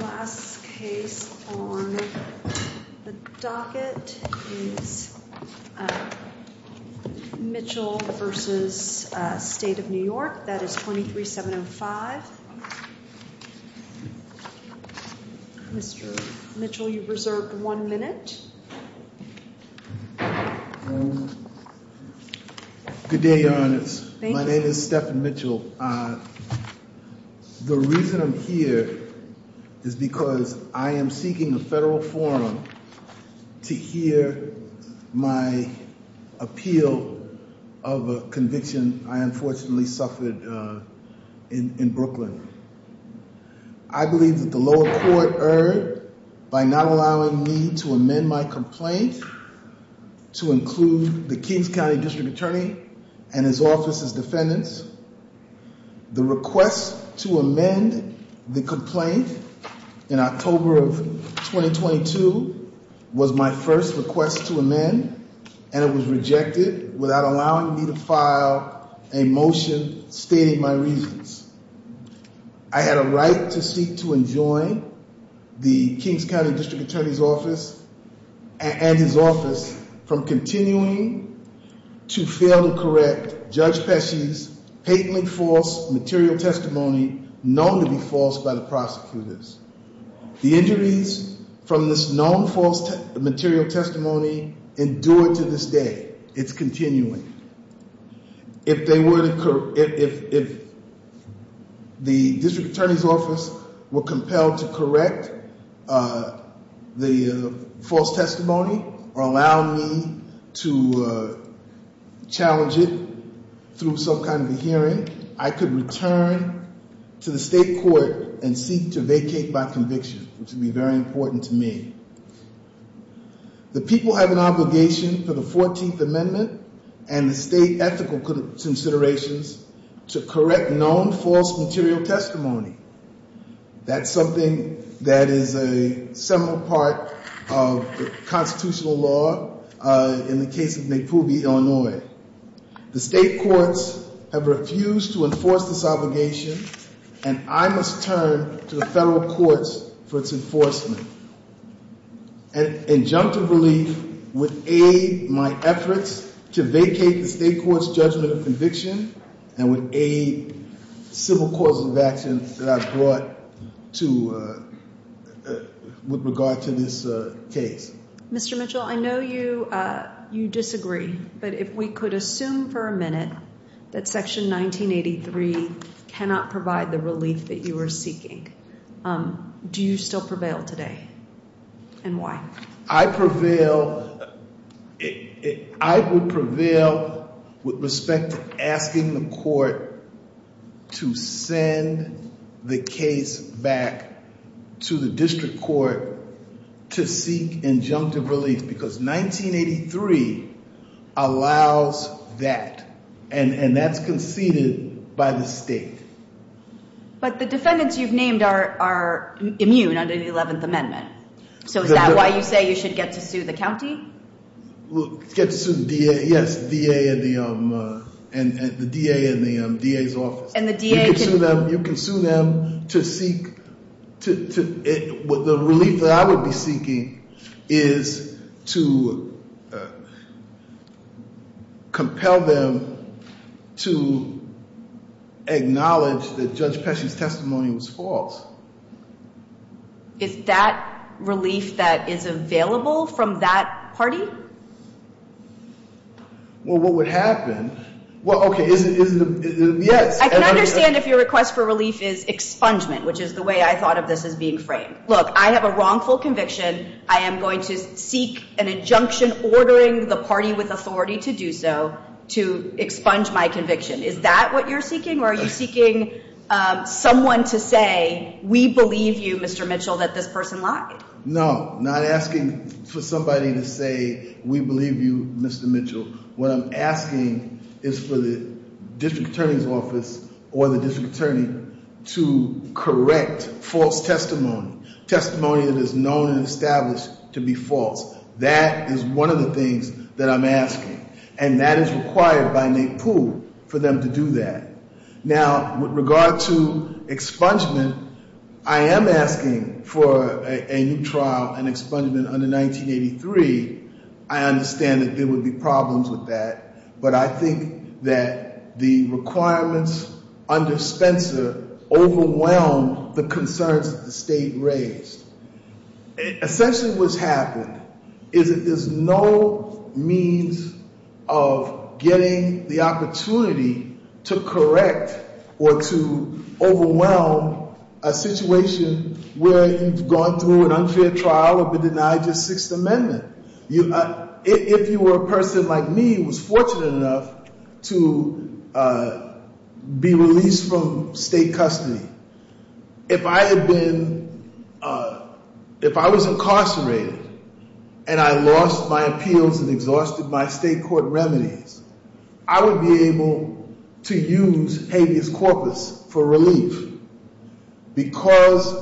Last case on the docket is Mitchell v. State of New York. That is 23705. Mr. Mitchell, you've reserved one minute. Good day, Your Honor. My name is Stephan Mitchell. The reason I'm here is because I am seeking a federal forum to hear my appeal of a conviction I unfortunately suffered in Brooklyn. I believe that the lower court erred by not allowing me to amend my complaint to include the Kings County District Attorney and his office's defendants. The request to amend the complaint in October of 2022 was my first request to amend and it was rejected without allowing me to file a motion stating my reasons. I had a right to seek to enjoin the Kings County District Attorney's office and his office from continuing to fail to correct Judge Pesci's patently false material testimony known to be false by the prosecutors. The injuries from this known false material testimony endure to this day. It's continuing. If the District Attorney's office were compelled to correct the false testimony or allow me to challenge it through some kind of a hearing, I could return to the state court and seek to vacate by conviction, which would be very important to me. The people have an obligation for the 14th Amendment and the state ethical considerations to correct known false material testimony. That's something that is a seminal part of the constitutional law in the case of McPoobie, Illinois. The state courts have refused to enforce this obligation and I must turn to the federal courts for its enforcement. An injunctive relief would aid my efforts to vacate the state court's judgment of conviction and would aid civil courts of action that I've brought with regard to this case. Mr. Mitchell, I know you disagree, but if we could assume for a minute that Section 1983 cannot provide the relief that you are seeking, do you still prevail today and why? I would prevail with respect to asking the court to send the case back to the district court to seek injunctive relief because 1983 allows that and that's conceded by the state. But the defendants you've named are immune under the 11th Amendment, so is that why you say you should get to sue the county? Yes, the DA and the DA's office. You can sue them. The relief that I would be seeking is to compel them to acknowledge that Judge Pesci's testimony was false. Is that relief that is available from that party? Well, what would happen? Well, okay. I can understand if your request for relief is expungement, which is the way I thought of this as being framed. Look, I have a wrongful conviction. I am going to seek an injunction ordering the party with authority to do so to expunge my conviction. Is that what you're seeking or are you seeking someone to say, we believe you, Mr. Mitchell, that this person lied? No, not asking for somebody to say, we believe you, Mr. Mitchell. What I'm asking is for the district attorney's office or the district attorney to correct false testimony, testimony that is known and established to be false. That is one of the things that I'm asking, and that is required by NAEPU for them to do that. Now, with regard to expungement, I am asking for a new trial and expungement under 1983. I understand that there would be problems with that, but I think that the requirements under Spencer overwhelmed the concerns that the state raised. Essentially what's happened is that there's no means of getting the opportunity to correct or to overwhelm a situation where you've gone through an unfair trial or been denied your Sixth Amendment. If you were a person like me who was fortunate enough to be released from state custody, if I was incarcerated and I lost my appeals and exhausted my state court remedies, I would be able to use habeas corpus for relief. Because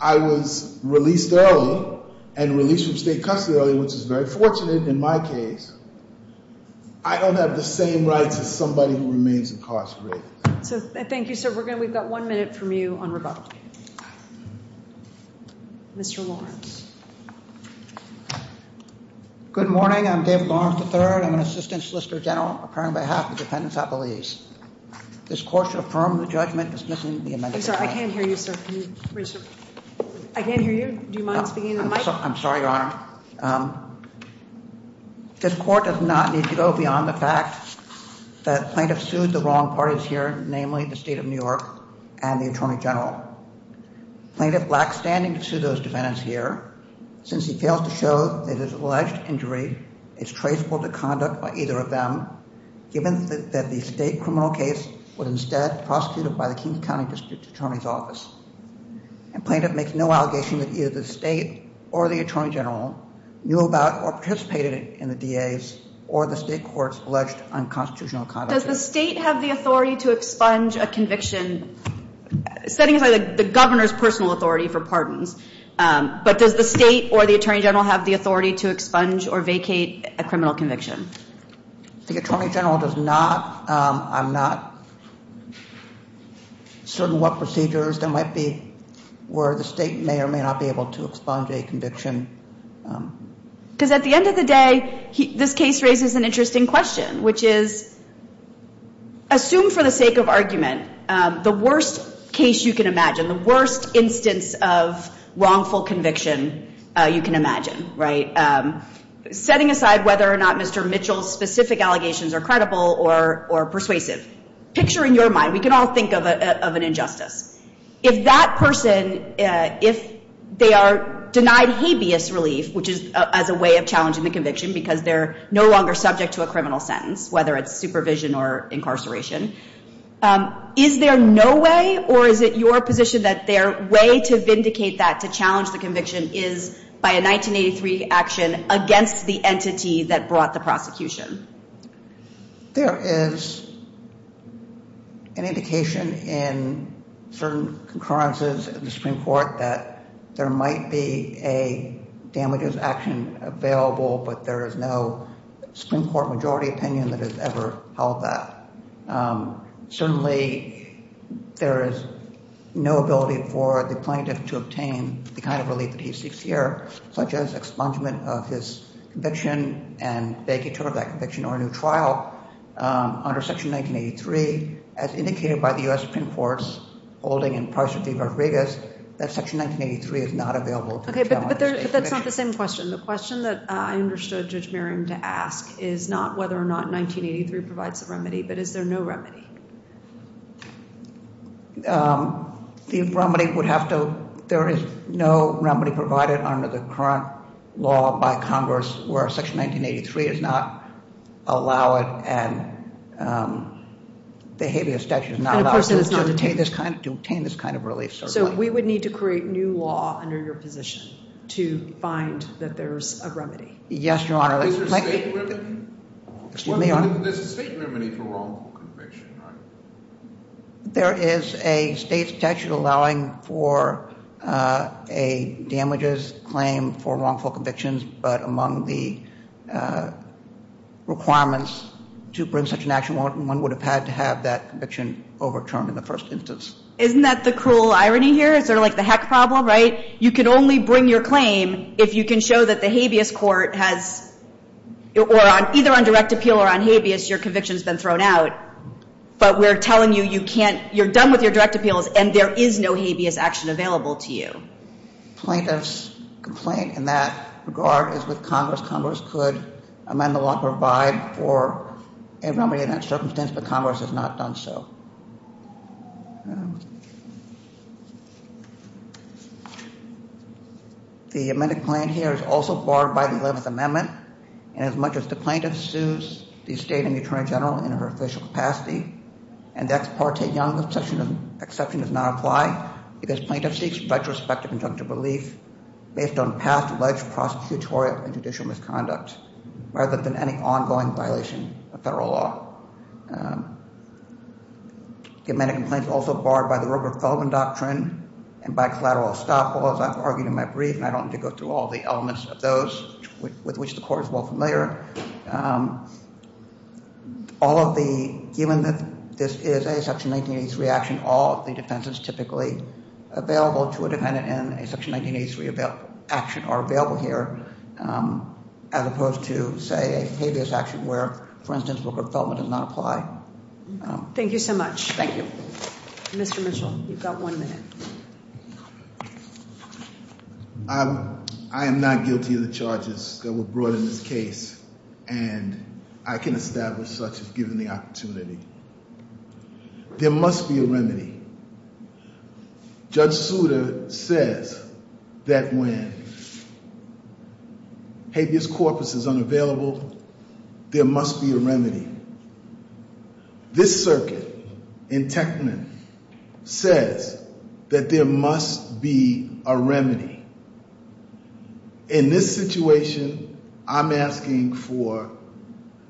I was released early and released from state custody early, which is very fortunate in my case, I don't have the same rights as somebody who remains incarcerated. Thank you, sir. We've got one minute from you on rebuttal. Mr. Lawrence. Good morning. I'm Dave Lawrence III. I'm an assistant solicitor general, appearing on behalf of the defendants at the lease. This court should affirm the judgment dismissing the amendment. I'm sorry, I can't hear you, sir. Can you raise your... I can't hear you. Do you mind speaking into the mic? I'm sorry, Your Honor. This court does not need to go beyond the fact that plaintiffs sued the wrong parties here, namely the state of New York and the attorney general. Plaintiff lacks standing to sue those defendants here, since he failed to show that his alleged injury is traceable to conduct by either of them, given that the state criminal case was instead prosecuted by the King County District Attorney's Office. And plaintiff makes no allegation that either the state or the attorney general knew about or participated in the DA's or the state court's alleged unconstitutional conduct. Does the state have the authority to expunge a conviction, setting aside the governor's personal authority for pardons, but does the state or the attorney general have the authority to expunge or vacate a criminal conviction? The attorney general does not. I'm not certain what procedures there might be where the state may or may not be able to expunge a conviction. Because at the end of the day, this case raises an interesting question, which is, assume for the sake of argument, the worst case you can imagine, the worst instance of wrongful conviction you can imagine, right? Setting aside whether or not Mr. Mitchell's specific allegations are credible or persuasive, picture in your mind, we can all think of an injustice. If that person, if they are denied habeas relief, which is as a way of challenging the conviction because they're no longer subject to a criminal sentence, whether it's supervision or incarceration, is there no way or is it your position that their way to vindicate that, to challenge the conviction, is by a 1983 action against the entity that brought the prosecution? There is an indication in certain concurrences in the Supreme Court that there might be a damages action available, but there is no Supreme Court majority opinion that has ever held that. Certainly, there is no ability for the plaintiff to obtain the kind of relief that he seeks here, such as expungement of his conviction and banking toward that conviction or a new trial under Section 1983. As indicated by the U.S. Supreme Court's holding in Price v. Rodriguez, that Section 1983 is not available to challenge this conviction. But that's not the same question. The question that I understood Judge Merriam to ask is not whether or not 1983 provides a remedy, but is there no remedy? The remedy would have to, there is no remedy provided under the current law by Congress where Section 1983 does not allow it and the habeas statute does not allow to obtain this kind of relief, certainly. So we would need to create new law under your position to find that there's a remedy? Yes, Your Honor. There's a state remedy for wrongful conviction, right? There is a state statute allowing for a damages claim for wrongful convictions, but among the requirements to bring such an action, one would have had to have that conviction overturned in the first instance. Isn't that the cruel irony here? Is there like the heck problem, right? You could only bring your claim if you can show that the habeas court has, or either on direct appeal or on habeas, your conviction has been thrown out. But we're telling you, you can't, you're done with your direct appeals and there is no habeas action available to you. Plaintiff's complaint in that regard is with Congress. Congress could amend the law and provide for a remedy in that circumstance, but Congress has not done so. The amended plan here is also barred by the 11th Amendment, and as much as the plaintiff sues the state and the Attorney General in her official capacity, and the ex parte exception does not apply because plaintiff seeks retrospective injunctive relief based on past alleged prosecutorial and judicial misconduct rather than any ongoing violation of federal law. The amended complaint is also barred by the Rupert Feldman Doctrine and by collateral estoppel, as I've argued in my brief, and I don't need to go through all the elements of those with which the Court is well familiar. All of the, given that this is a Section 1983 action, all of the defenses typically available to a defendant in a Section 1983 action are available here, as opposed to, say, a habeas action where, for instance, Rupert Feldman does not apply. Thank you so much. Thank you. Mr. Mitchell, you've got one minute. I am not guilty of the charges that were brought in this case, and I can establish such as given the opportunity. There must be a remedy. Judge Souter says that when habeas corpus is unavailable, there must be a remedy. This circuit in Techman says that there must be a remedy. In this situation, I'm asking for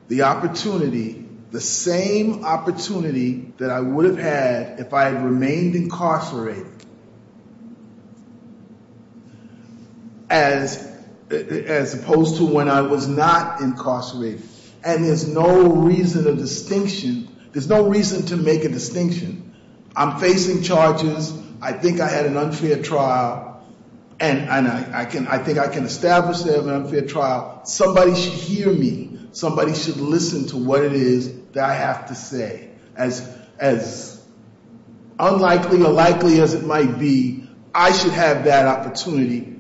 the opportunity, the same opportunity that I would have had if I had remained incarcerated as opposed to when I was not incarcerated. And there's no reason to make a distinction. I'm facing charges. I think I had an unfair trial, and I think I can establish that I had an unfair trial. Somebody should hear me. Somebody should listen to what it is that I have to say. As unlikely or likely as it might be, I should have that opportunity.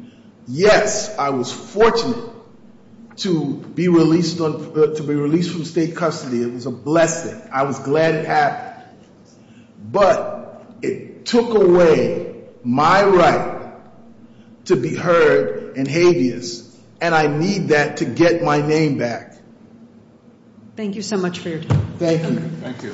Yes, I was fortunate to be released from state custody. It was a blessing. I was glad it happened. But it took away my right to be heard in habeas, and I need that to get my name back. Thank you so much for your time. Thank you.